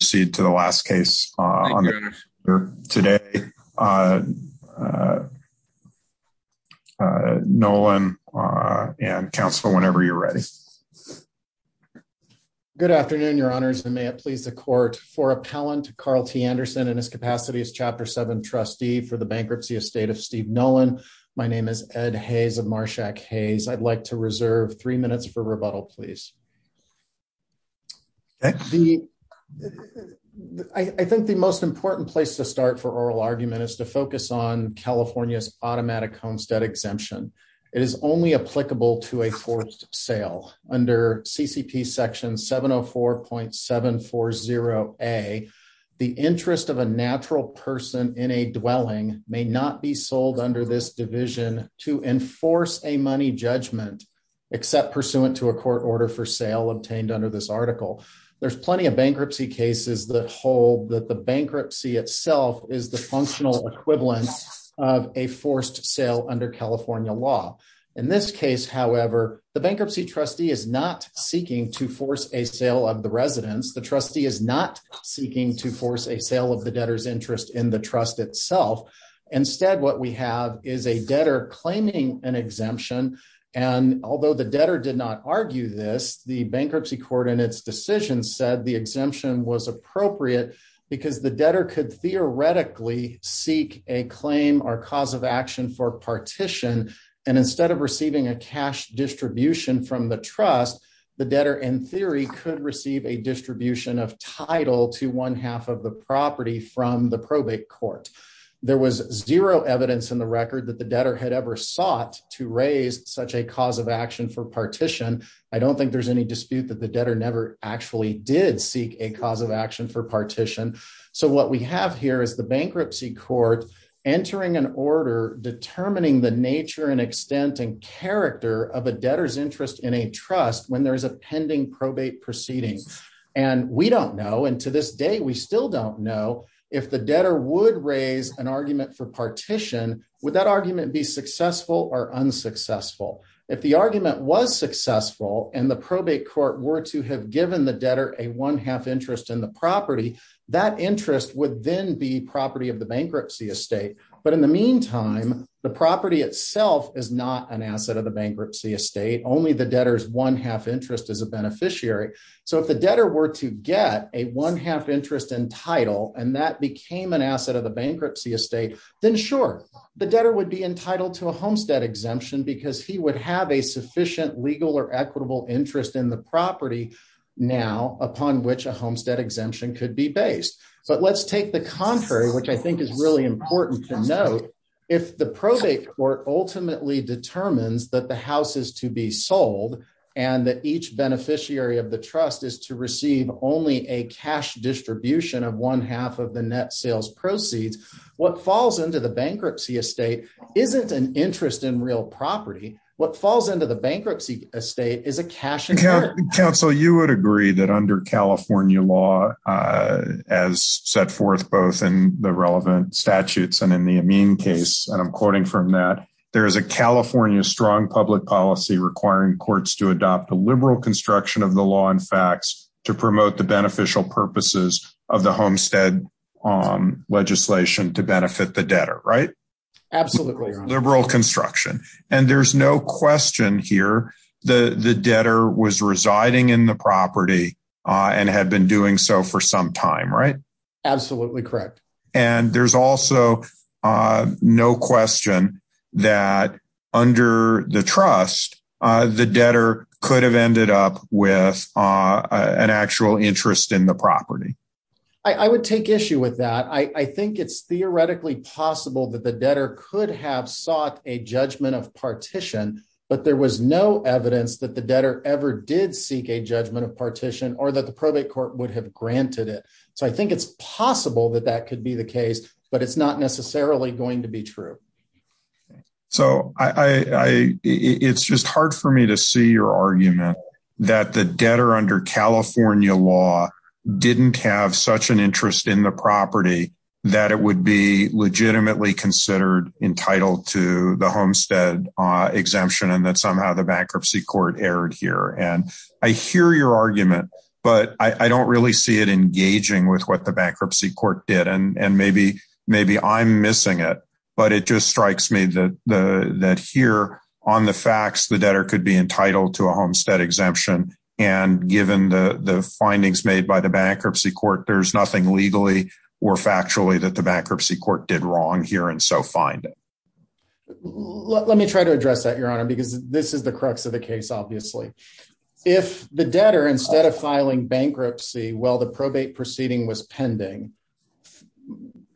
to the last case. Uh, uh, uh, Nolan, uh, and counsel whenever you're ready. Good afternoon, your honors and may it please the court for appellant Karl T. Anderson in his capacity as chapter seven trustee for the bankruptcy estate of Steve Nolan. My name is Ed Hayes of Marshak Hayes. I'd like to reserve three minutes for rebuttal, please. I think the most important place to start for oral argument is to focus on California's automatic homestead exemption. It is only applicable to a forced sale under CCP section 704.740 a the interest of a natural person in a dwelling may not be sold under this division to enforce a money judgment except pursuant to a court order for sale obtained under this article. There's plenty of bankruptcy cases that hold that the bankruptcy itself is the functional equivalent of a forced sale under California law. In this case, however, the bankruptcy trustee is not seeking to force a sale of the residence. The trustee is not seeking to force a sale of the debtors interest in the trust itself. Instead, what we have is a debtor claiming an exemption. And although the debtor did not argue this, the bankruptcy court in its decision said the exemption was appropriate because the debtor could theoretically seek a claim or cause of action for partition. And instead of receiving a cash distribution from the trust, the debtor in theory could receive a distribution of title to one half of the property from the probate court. There was zero evidence in the record that the debtor had ever sought to raise such a cause of action for partition. I don't think there's any dispute that the debtor never actually did seek a cause of action for partition. So what we have here is the bankruptcy court entering an order determining the nature and extent and character of a debtor's interest in a trust when there's a pending probate proceedings. We don't know, and to this day we still don't know, if the debtor would raise an argument for partition, would that argument be successful or unsuccessful? If the argument was successful and the probate court were to have given the debtor a one half interest in the property, that interest would then be property of the bankruptcy estate. But in the meantime, the property itself is not an asset of the bankruptcy estate. Only the debtor's one half interest is a beneficiary. So if the debtor were to get a one half interest in title, and that became an asset of the bankruptcy estate, then sure, the debtor would be entitled to a homestead exemption because he would have a sufficient legal or equitable interest in the property now upon which a homestead exemption could be based. But let's take the contrary, which I think is really important to note. If the probate court ultimately determines that house is to be sold, and that each beneficiary of the trust is to receive only a cash distribution of one half of the net sales proceeds, what falls into the bankruptcy estate isn't an interest in real property. What falls into the bankruptcy estate is a cash. Council, you would agree that under California law, as set forth both in the relevant statutes and in the amine case, and I'm quoting from that, there is a California strong public policy requiring courts to adopt a liberal construction of the law and facts to promote the beneficial purposes of the homestead legislation to benefit the debtor, right? Absolutely. Liberal construction. And there's no question here, the debtor was residing in the property and had been doing so for some time, right? Absolutely correct. And there's also no question that under the trust, the debtor could have ended up with an actual interest in the property. I would take issue with that. I think it's theoretically possible that the debtor could have sought a judgment of partition, but there was no evidence that the debtor ever did seek a judgment of partition or that the probate court would have the case, but it's not necessarily going to be true. So it's just hard for me to see your argument that the debtor under California law didn't have such an interest in the property that it would be legitimately considered entitled to the homestead exemption and that somehow the bankruptcy court erred here. And I hear your argument, but I don't really see it engaging with what the bankruptcy court did. And maybe I'm missing it, but it just strikes me that here on the facts, the debtor could be entitled to a homestead exemption. And given the findings made by the bankruptcy court, there's nothing legally or factually that the bankruptcy court did wrong here and so find it. Let me try to address that, Your Honor, because this is the crux of the case, obviously. If the debtor, instead of filing bankruptcy while the probate proceeding was pending,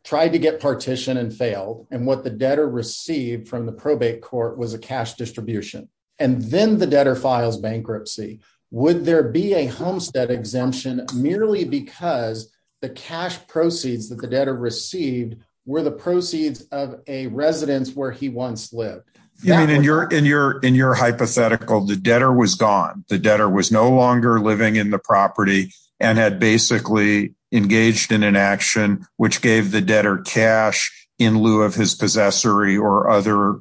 tried to get partition and failed, and what the debtor received from the probate court was a cash distribution, and then the debtor files bankruptcy, would there be a homestead exemption merely because the cash proceeds that the debtor received were the proceeds of a residence where he once lived? In your hypothetical, the debtor was gone. The debtor was no longer living in the property and had basically engaged in an action which gave the debtor cash in lieu of his possessory or other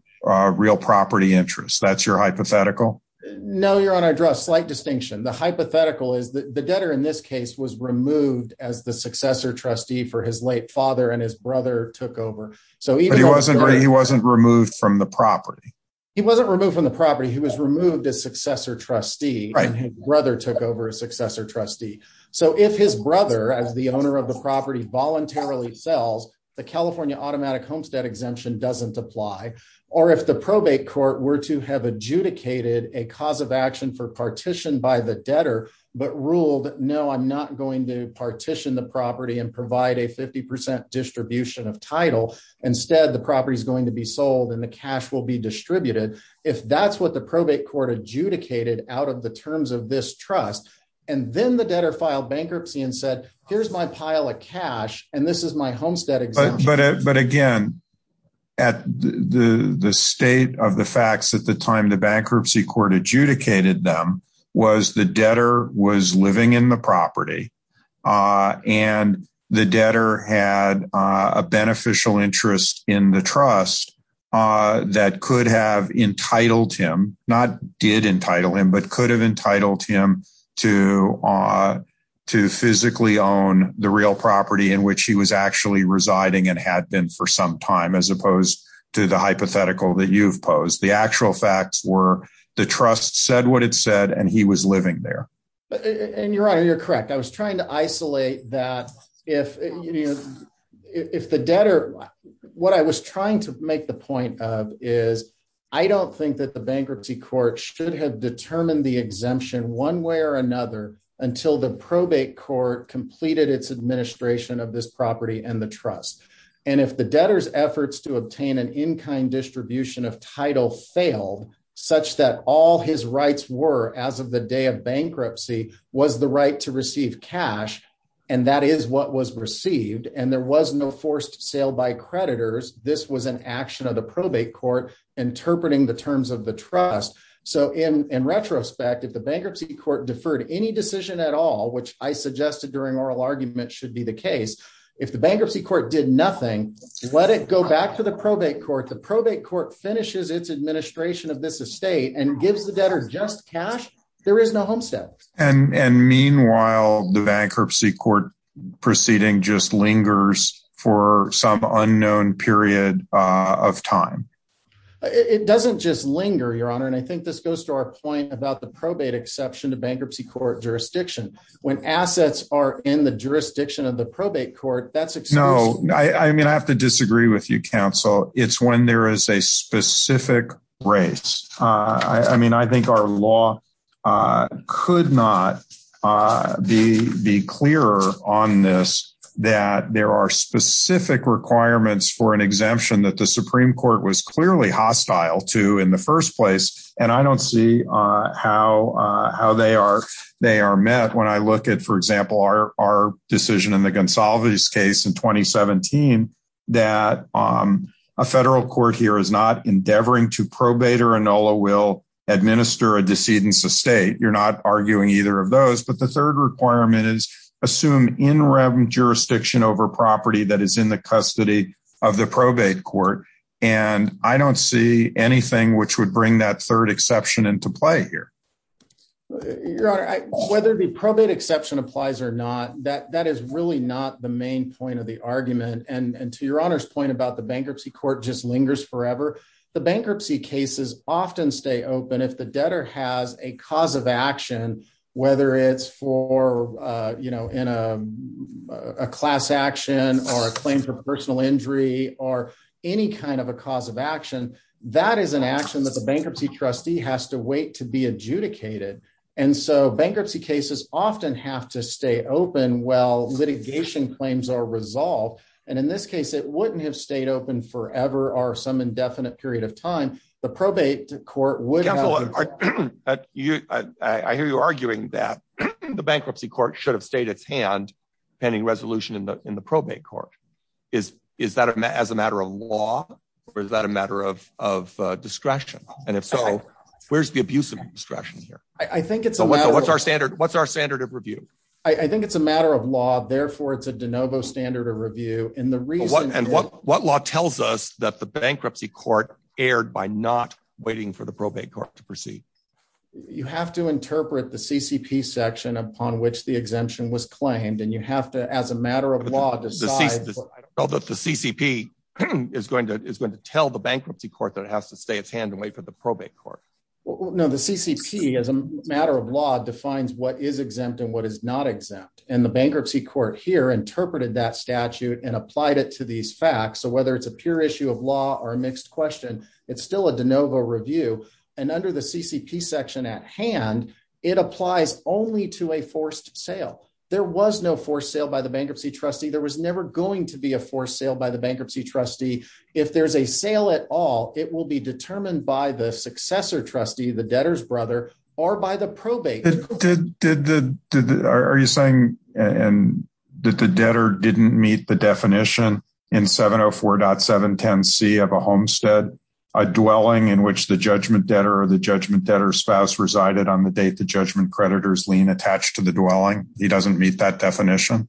real property interest. That's your hypothetical? No, Your Honor, I draw a slight distinction. The hypothetical is that the debtor in this case was removed as the successor trustee for his late property. He wasn't removed from the property. He was removed as successor trustee, and his brother took over as successor trustee. So if his brother, as the owner of the property, voluntarily sells, the California automatic homestead exemption doesn't apply. Or if the probate court were to have adjudicated a cause of action for partition by the debtor, but ruled, no, I'm not going to partition the property and provide a 50% distribution of title. Instead, the property is going to be sold and the cash will be distributed. If that's what the probate court adjudicated out of the terms of this trust, and then the debtor filed bankruptcy and said, here's my pile of cash, and this is my homestead exemption. But again, at the state of the facts at the time the bankruptcy court adjudicated them was the debtor was living in the property. And the debtor had a beneficial interest in the trust that could have entitled him, not did entitle him, but could have entitled him to physically own the real property in which he was actually residing and had been for some time, as opposed to the hypothetical that you've posed. The actual facts were the trust said what it said, and he was living there. And you're right, you're correct. I was trying to isolate that if the debtor, what I was trying to make the point of is I don't think that the bankruptcy court should have determined the exemption one way or another until the probate court completed its administration of this property and the trust. And if the debtor's efforts to obtain an in-kind distribution of title failed such that all his rights were as of the day of bankruptcy was the right to receive cash. And that is what was received. And there was no forced sale by creditors. This was an action of the probate court interpreting the terms of the trust. So in retrospect, if the bankruptcy court deferred any decision at all, which I suggested during oral argument should be the case. If the bankruptcy court did nothing, let it go back to the probate court. The probate court finishes its administration of this estate and gives the debtor just cash. There is no homestead. And meanwhile, the bankruptcy court proceeding just lingers for some unknown period of time. It doesn't just linger your honor. And I think this goes to our point about the probate exception to bankruptcy court jurisdiction when assets are in the jurisdiction of the probate court. No, I mean, I have to disagree with you, counsel. It's when there is a specific race. I mean, I think our law could not be clearer on this, that there are specific requirements for an exemption that the Supreme Court was clearly hostile to in the first place. And I don't see how they are. They are met when I look at, for example, our decision in the Gonsalves case in 2017, that a federal court here is not endeavoring to probate or Enola will administer a decedent estate. You're not arguing either of those. But the third requirement is assume in rem jurisdiction over property that is in the custody of the probate court. And I don't see anything which would bring that third exception into play here. Your honor, whether the probate exception applies or not, that that is really not the main point of the argument. And to your honor's point about the bankruptcy court just lingers forever. The bankruptcy cases often stay open if the debtor has a cause of action, whether it's for, you know, in a class action or a claim for personal injury or any kind of a cause of action. That is an action that the bankruptcy trustee has to wait to be adjudicated. And so bankruptcy cases often have to stay open while litigation claims are resolved. And in this case, it wouldn't have stayed open forever or some indefinite period of time. The probate court would. I hear you arguing that the bankruptcy court should have stayed its hand pending resolution in the probate court. Is is that as a matter of law or is that a matter of of discretion? And if so, where's the abuse of discretion here? I think it's what's our standard. What's our standard of review? I think it's a matter of law. Therefore, it's a de novo standard of review. And the reason what law tells us that the bankruptcy court erred by not waiting for the probate court to proceed. You have to interpret the CCP section upon which the exemption was claimed. And you have to, as a matter of law, decide that the CCP is going to tell the bankruptcy court that it has to stay its hand and wait for the probate court. No, the CCP, as a matter of law, defines what is exempt and what is not exempt. And the bankruptcy court here interpreted that statute and applied it to these facts. So whether it's a pure issue of law or a mixed question, it's still a de novo review. And under the CCP section at hand, it applies only to a forced sale. There was no forced sale by the bankruptcy trustee. There was never going to be a forced sale by the bankruptcy trustee. If there's a sale at all, it will be determined by the successor trustee, the debtor's brother, or by the probate. Are you saying that the debtor didn't meet the definition in 704.710c of a homestead, a dwelling in which the judgment debtor or the judgment creditor's lien attached to the dwelling? He doesn't meet that definition?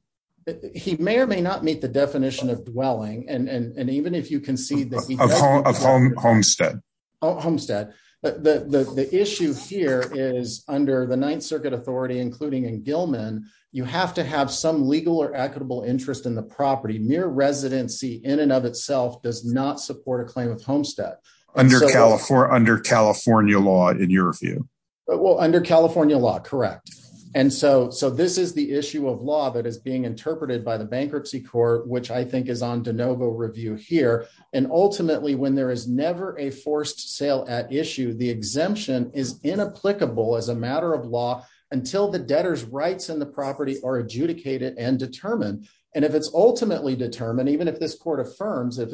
He may or may not meet the definition of dwelling. And even if you concede that he Of homestead. Homestead. The issue here is under the Ninth Circuit Authority, including in Gilman, you have to have some legal or equitable interest in the property. Mere residency in and of itself does not support a claim of homestead. Under California law, in your view? Well, under California law, correct. And so this is the issue of law that is being interpreted by the bankruptcy court, which I think is on de novo review here. And ultimately, when there is never a forced sale at issue, the exemption is inapplicable as a matter of law until the debtor's rights in the property are adjudicated and determined. And if it's ultimately determined, even if this the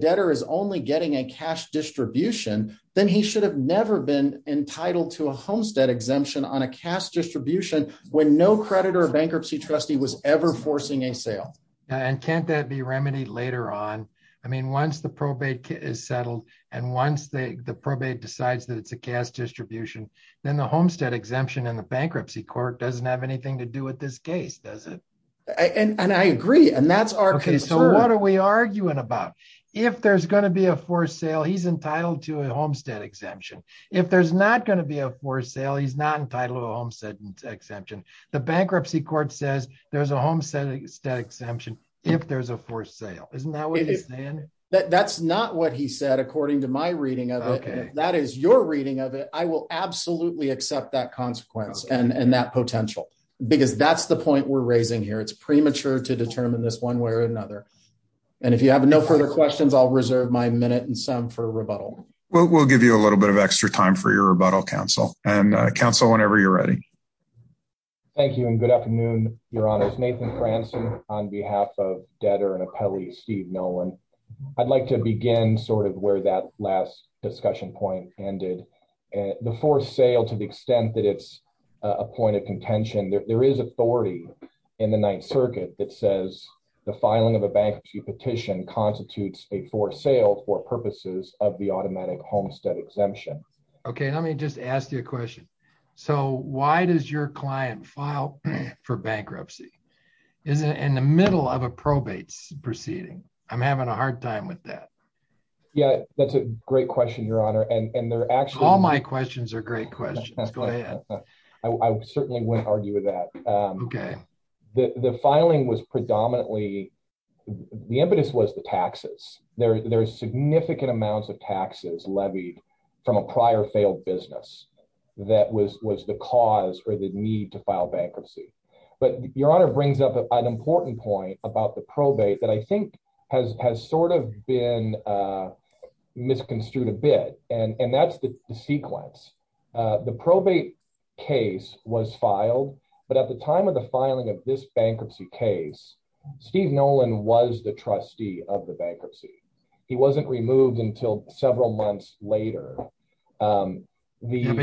debtor is only getting a cash distribution, then he should have never been entitled to a homestead exemption on a cash distribution when no creditor or bankruptcy trustee was ever forcing a sale. And can't that be remedied later on? I mean, once the probate is settled and once the probate decides that it's a cash distribution, then the homestead exemption in the bankruptcy court doesn't have anything to do with this case, does it? And I agree. And that's our case. So what are we arguing about? If there's going to be a forced sale, he's entitled to a homestead exemption. If there's not going to be a forced sale, he's not entitled to a homestead exemption. The bankruptcy court says there's a homestead exemption if there's a forced sale. Isn't that what you're saying? That's not what he said, according to my reading of it. That is your reading of it. I will It's premature to determine this one way or another. And if you have no further questions, I'll reserve my minute and some for rebuttal. We'll give you a little bit of extra time for your rebuttal, counsel. And counsel, whenever you're ready. Thank you and good afternoon, Your Honors. Nathan Franzen on behalf of debtor and appellee Steve Nolan. I'd like to begin sort of where that last discussion point ended. The forced sale, to the extent that it's a point of contention, there is authority in the Ninth Circuit that says the filing of a bankruptcy petition constitutes a forced sale for purposes of the automatic homestead exemption. OK, let me just ask you a question. So why does your client file for bankruptcy? Is it in the middle of a probate proceeding? I'm having a hard time with that. Yeah, that's a great question, Your Honor. And they're actually my questions are great questions. Go ahead. I certainly wouldn't argue with that. OK, the filing was predominantly the impetus was the taxes. There are significant amounts of taxes levied from a prior failed business that was was the cause or the need to file bankruptcy. But Your Honor brings up an important point about the probate that I think has has sort of been misconstrued a bit. And that's the sequence. The probate case was filed. But at the time of the filing of this bankruptcy case, Steve Nolan was the trustee of the bankruptcy. He wasn't removed until several months later. But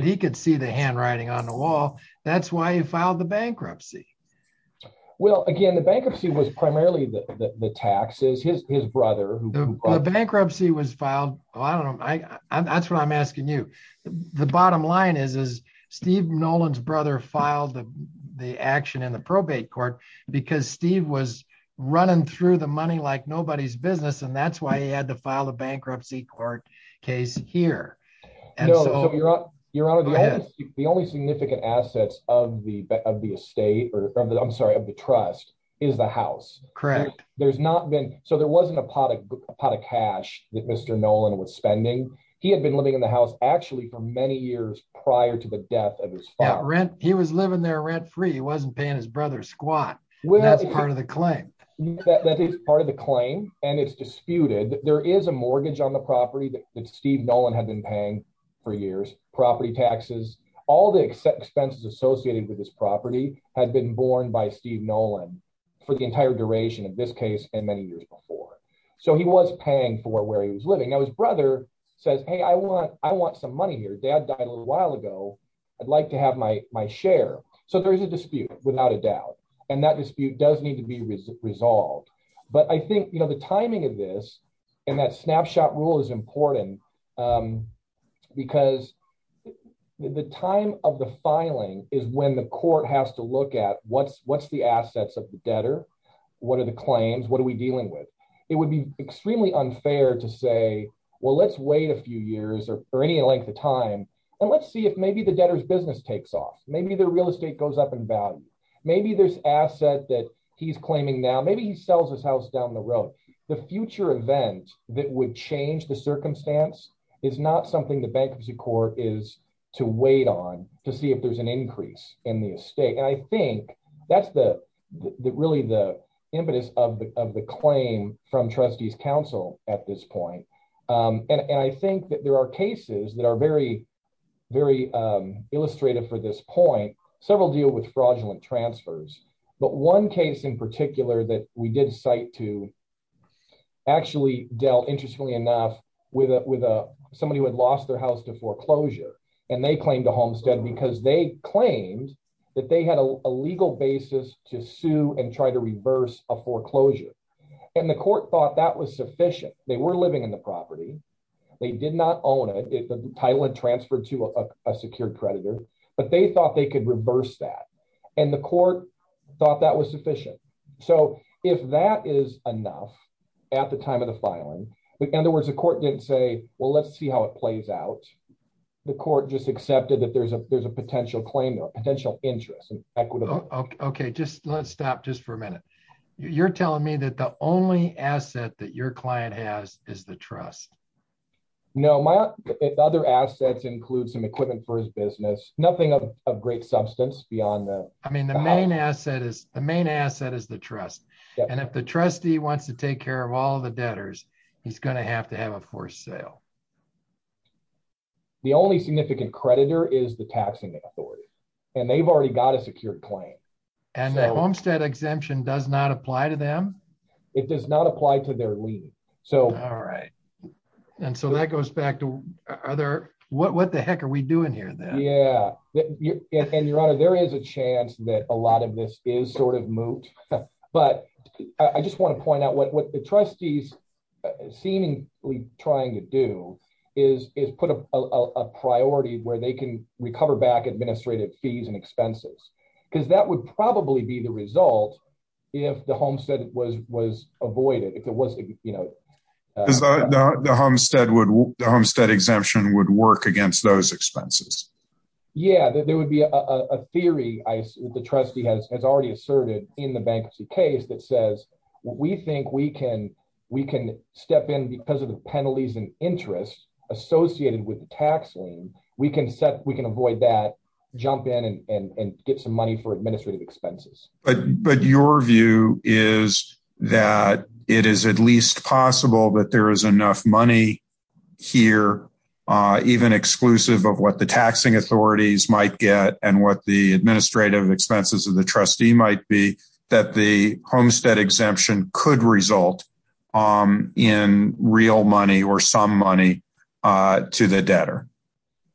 he could see the handwriting on the wall. That's why he filed the bankruptcy. Well, again, the bankruptcy was primarily the taxes. His brother who bankruptcy was filed. Well, I don't know. That's what I'm asking you. The bottom line is, is Steve Nolan's brother filed the action in the probate court because Steve was running through the money like nobody's business. And that's why he had to file a bankruptcy court case here. And so, Your Honor, the only significant assets of the of the estate or I'm sorry, of the trust is the house. Correct. There's not been. So there wasn't a pot of pot of cash that Mr. Nolan was spending. He had been living in the house actually for many years prior to the death of his rent. He was living there rent free. He wasn't paying his brother squat. Well, that's part of the claim that is part of the claim. And it's disputed that there is a mortgage on the property that Steve Nolan had been paying for years. Property taxes, all the expenses associated with this property had been borne by Steve Nolan for the entire duration of this case and many years before. So he was paying for where he was living. Now, his brother says, hey, I want I want some money here. Dad died a little while ago. I'd like to have my my share. So there is a dispute without a doubt. And that dispute does need to be resolved. But I think the timing of this and that snapshot rule is important because the time of the filing is when the court has to look at what's what's the assets of the debtor. What are the claims? What are we dealing with? It would be extremely unfair to say, well, let's wait a few years or any length of time and let's see if maybe the debtor's business takes off. Maybe their real estate goes up in value. Maybe there's asset that he's claiming now. Maybe he sells his house down the road. The future event that would change the circumstance is not something the bankruptcy court is to wait on to see if there's an increase in the estate. And I think that's the really the impetus of the claim from trustees counsel at this point. And I think that there are cases that are very, very illustrative for this point. Several deal with fraudulent transfers. But one case in particular that we did cite to actually dealt, interestingly enough, with with somebody who had lost their house to foreclosure. And they claimed a homestead because they claimed that they had a legal basis to sue and try to reverse a foreclosure. And the court thought that was sufficient. So if that is enough at the time of the filing, in other words, the court didn't say, well, let's see how it plays out. The court just accepted that there's a potential claim, potential interest. Okay. Just let's stop just for a minute. You're telling me that the only asset that your client has is the trust. No, my other assets include some equipment for his business, nothing of great substance beyond that. I mean, the main asset is the main asset is the trust. And if the trustee wants to take care of all the debtors, he's going to have to have a forced sale. The only significant creditor is the taxing authority, and they've already got a secured claim. And the homestead exemption does not apply to them. It does not apply to their lien. All right. And so that goes back to what the heck are we doing here then? Yeah. And your honor, there is a chance that a lot of this is sort of moot. But I just want to point out what the trustees seemingly trying to do is put a priority where they can recover back administrative fees and expenses, because that would probably be the avoided if it wasn't, you know, the homestead exemption would work against those expenses. Yeah, there would be a theory, the trustee has already asserted in the bankruptcy case that says, we think we can step in because of the penalties and interest associated with the tax lien, we can set we can avoid that, jump in and get some money for administrative expenses. But your view is that it is at least possible that there is enough money here, even exclusive of what the taxing authorities might get and what the administrative expenses of the trustee might be that the homestead exemption could result in real money or some money to the debtor.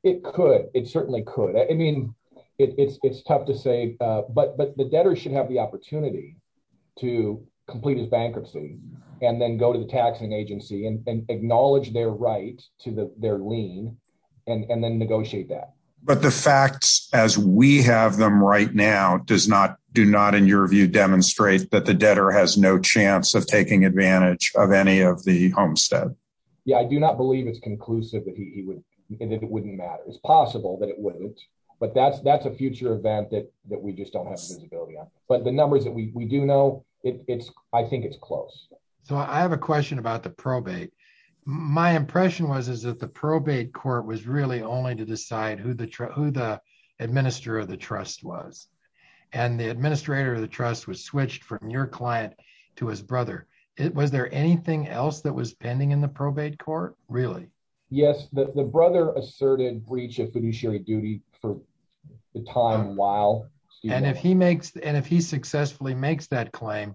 It could, it certainly could. I mean, it's tough to say, but but the debtor should have the opportunity to complete his bankruptcy, and then go to the taxing agency and acknowledge their right to the their lien, and then negotiate that. But the facts as we have them right now does not do not in your view demonstrate that the debtor has no chance of taking advantage of any of the matters. It's possible that it wouldn't. But that's that's a future event that that we just don't have visibility on. But the numbers that we do know, it's I think it's close. So I have a question about the probate. My impression was is that the probate court was really only to decide who the who the administrator of the trust was. And the administrator of the trust was switched from your client to his brother. It was there anything else that was pending in the fiduciary duty for the time while? And if he makes and if he successfully makes that claim,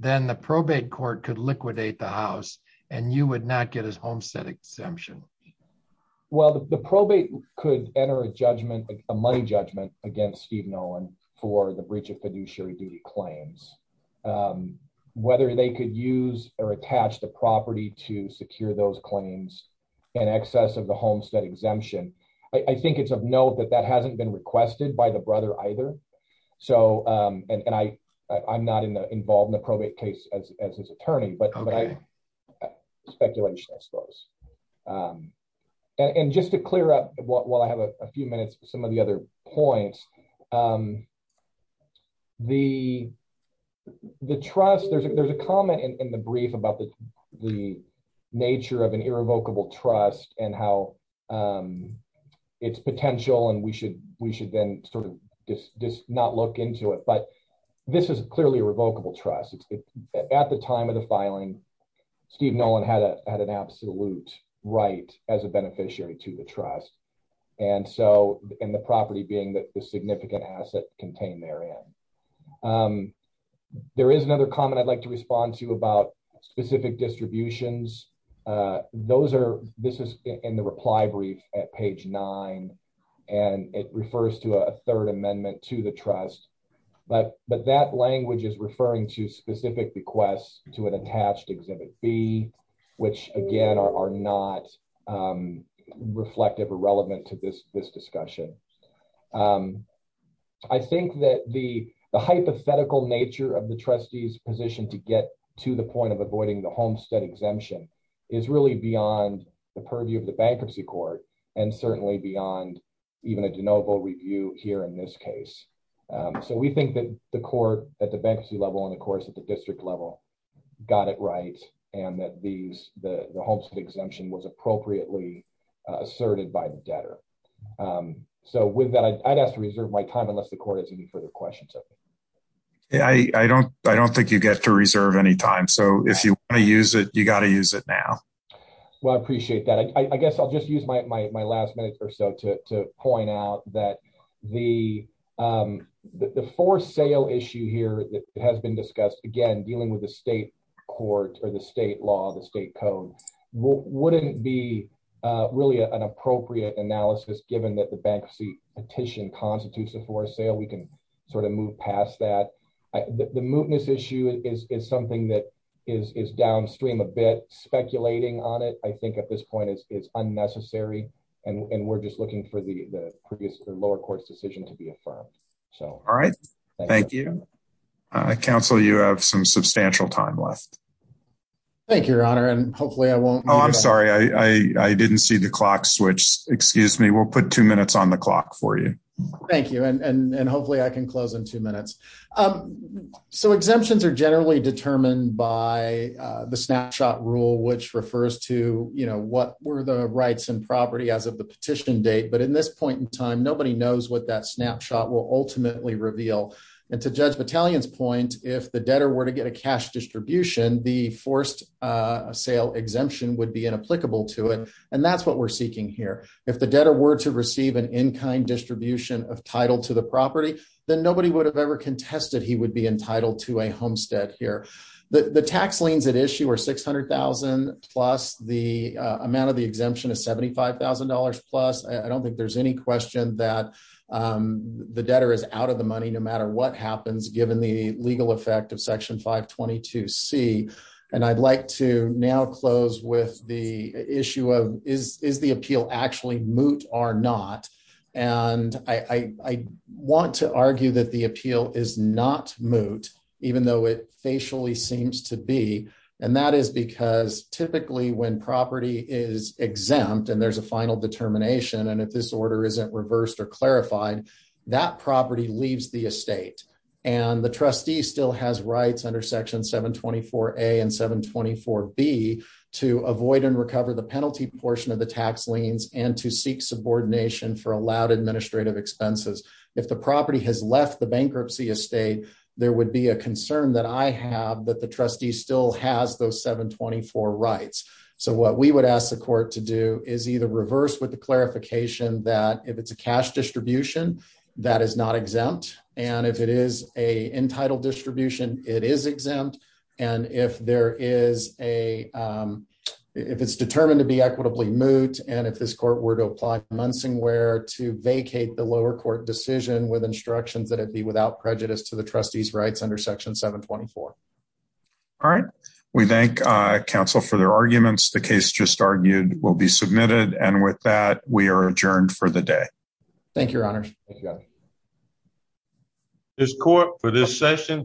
then the probate court could liquidate the house and you would not get his homestead exemption. Well, the probate could enter a judgment, a money judgment against Steve Nolan for the breach of fiduciary duty claims. Whether they could use or attach the property to secure those claims, in excess of the homestead exemption. I think it's of note that that hasn't been requested by the brother either. So and I, I'm not involved in the probate case as his attorney, but speculation, I suppose. And just to clear up what while I have a few minutes, some of the other points, um, the, the trust, there's, there's a comment in the brief about the, the nature of an irrevocable trust and how its potential and we should, we should then sort of just not look into it. But this is clearly a revocable trust. It's at the time of the filing, Steve Nolan had a, had an absolute right as a beneficiary to the trust. And so in the property being that significant asset contained therein. Um, there is another comment I'd like to respond to about specific distributions. Uh, those are, this is in the reply brief at page nine and it refers to a third amendment to the trust, but, but that language is referring to specific requests to an attached exhibit B, which again are, are not, um, reflective or relevant to this, this discussion. Um, I think that the, the hypothetical nature of the trustee's position to get to the point of avoiding the Homestead exemption is really beyond the purview of the bankruptcy court and certainly beyond even a de novo review here in this case. Um, so we think that the court at the bankruptcy level and of course at the district level got it right. And these, the, the Homestead exemption was appropriately asserted by the debtor. Um, so with that, I'd ask to reserve my time unless the court has any further questions. Yeah, I, I don't, I don't think you get to reserve any time. So if you want to use it, you got to use it now. Well, I appreciate that. I guess I'll just use my, my, my last minute or so to, to point out that the, um, the, the for sale issue here that has been discussed again, dealing with the state court or the state law, the state code wouldn't be, uh, really an appropriate analysis given that the bankruptcy petition constitutes a for sale. We can sort of move past that. I, the, the mootness issue is, is something that is, is downstream a bit speculating on it. I think at this point it's, it's unnecessary and we're just looking for the, the previous lower court's decision to be affirmed. So, all right, thank you. Uh, counsel, you have some substantial time left. Thank you, Your Honor. And hopefully I won't, Oh, I'm sorry. I, I, I didn't see the clock switch. Excuse me. We'll put two minutes on the clock for you. Thank you. And hopefully I can close in two minutes. Um, so exemptions are generally determined by, uh, the snapshot rule, which refers to, you know, what were the rights and property as of the petition date. But in this point in time, nobody knows what that snapshot will ultimately reveal. And to judge battalion's point, if the debtor were to get a cash distribution, the forced, uh, sale exemption would be inapplicable to it. And that's what we're seeking here. If the debtor were to receive an in-kind distribution of title to the property, then nobody would have ever contested he would be entitled to a homestead here. The tax liens at issue are 600,000 plus the, uh, amount of the exemption is $75,000 plus. I don't think there's any question that, um, the debtor is out of the money, no matter what happens given the legal effect of section five 22 C. And I'd like to now close with the issue of is, is the appeal actually moot or not? And I, I want to argue that the appeal is not moot, even though it facially seems to be. And that is because typically when property is exempt and there's a final determination, and if this order isn't reversed or clarified, that property leaves the estate and the trustee still has rights under section seven 24 a and seven 24 B to avoid and recover the penalty portion of the tax liens and to seek subordination for allowed administrative expenses. If the property has left the bankruptcy estate, there would be a concern that I have that the clarification that if it's a cash distribution, that is not exempt. And if it is a entitled distribution, it is exempt. And if there is a, um, if it's determined to be equitably moot, and if this court were to apply Munsing where to vacate the lower court decision with instructions that it'd be without prejudice to the trustees rights under section seven 24. All right. We thank council for their arguments. The case just argued will be submitted. And with that, we are adjourned for the day. Thank you, Your Honor. This court for this session stands adjourned.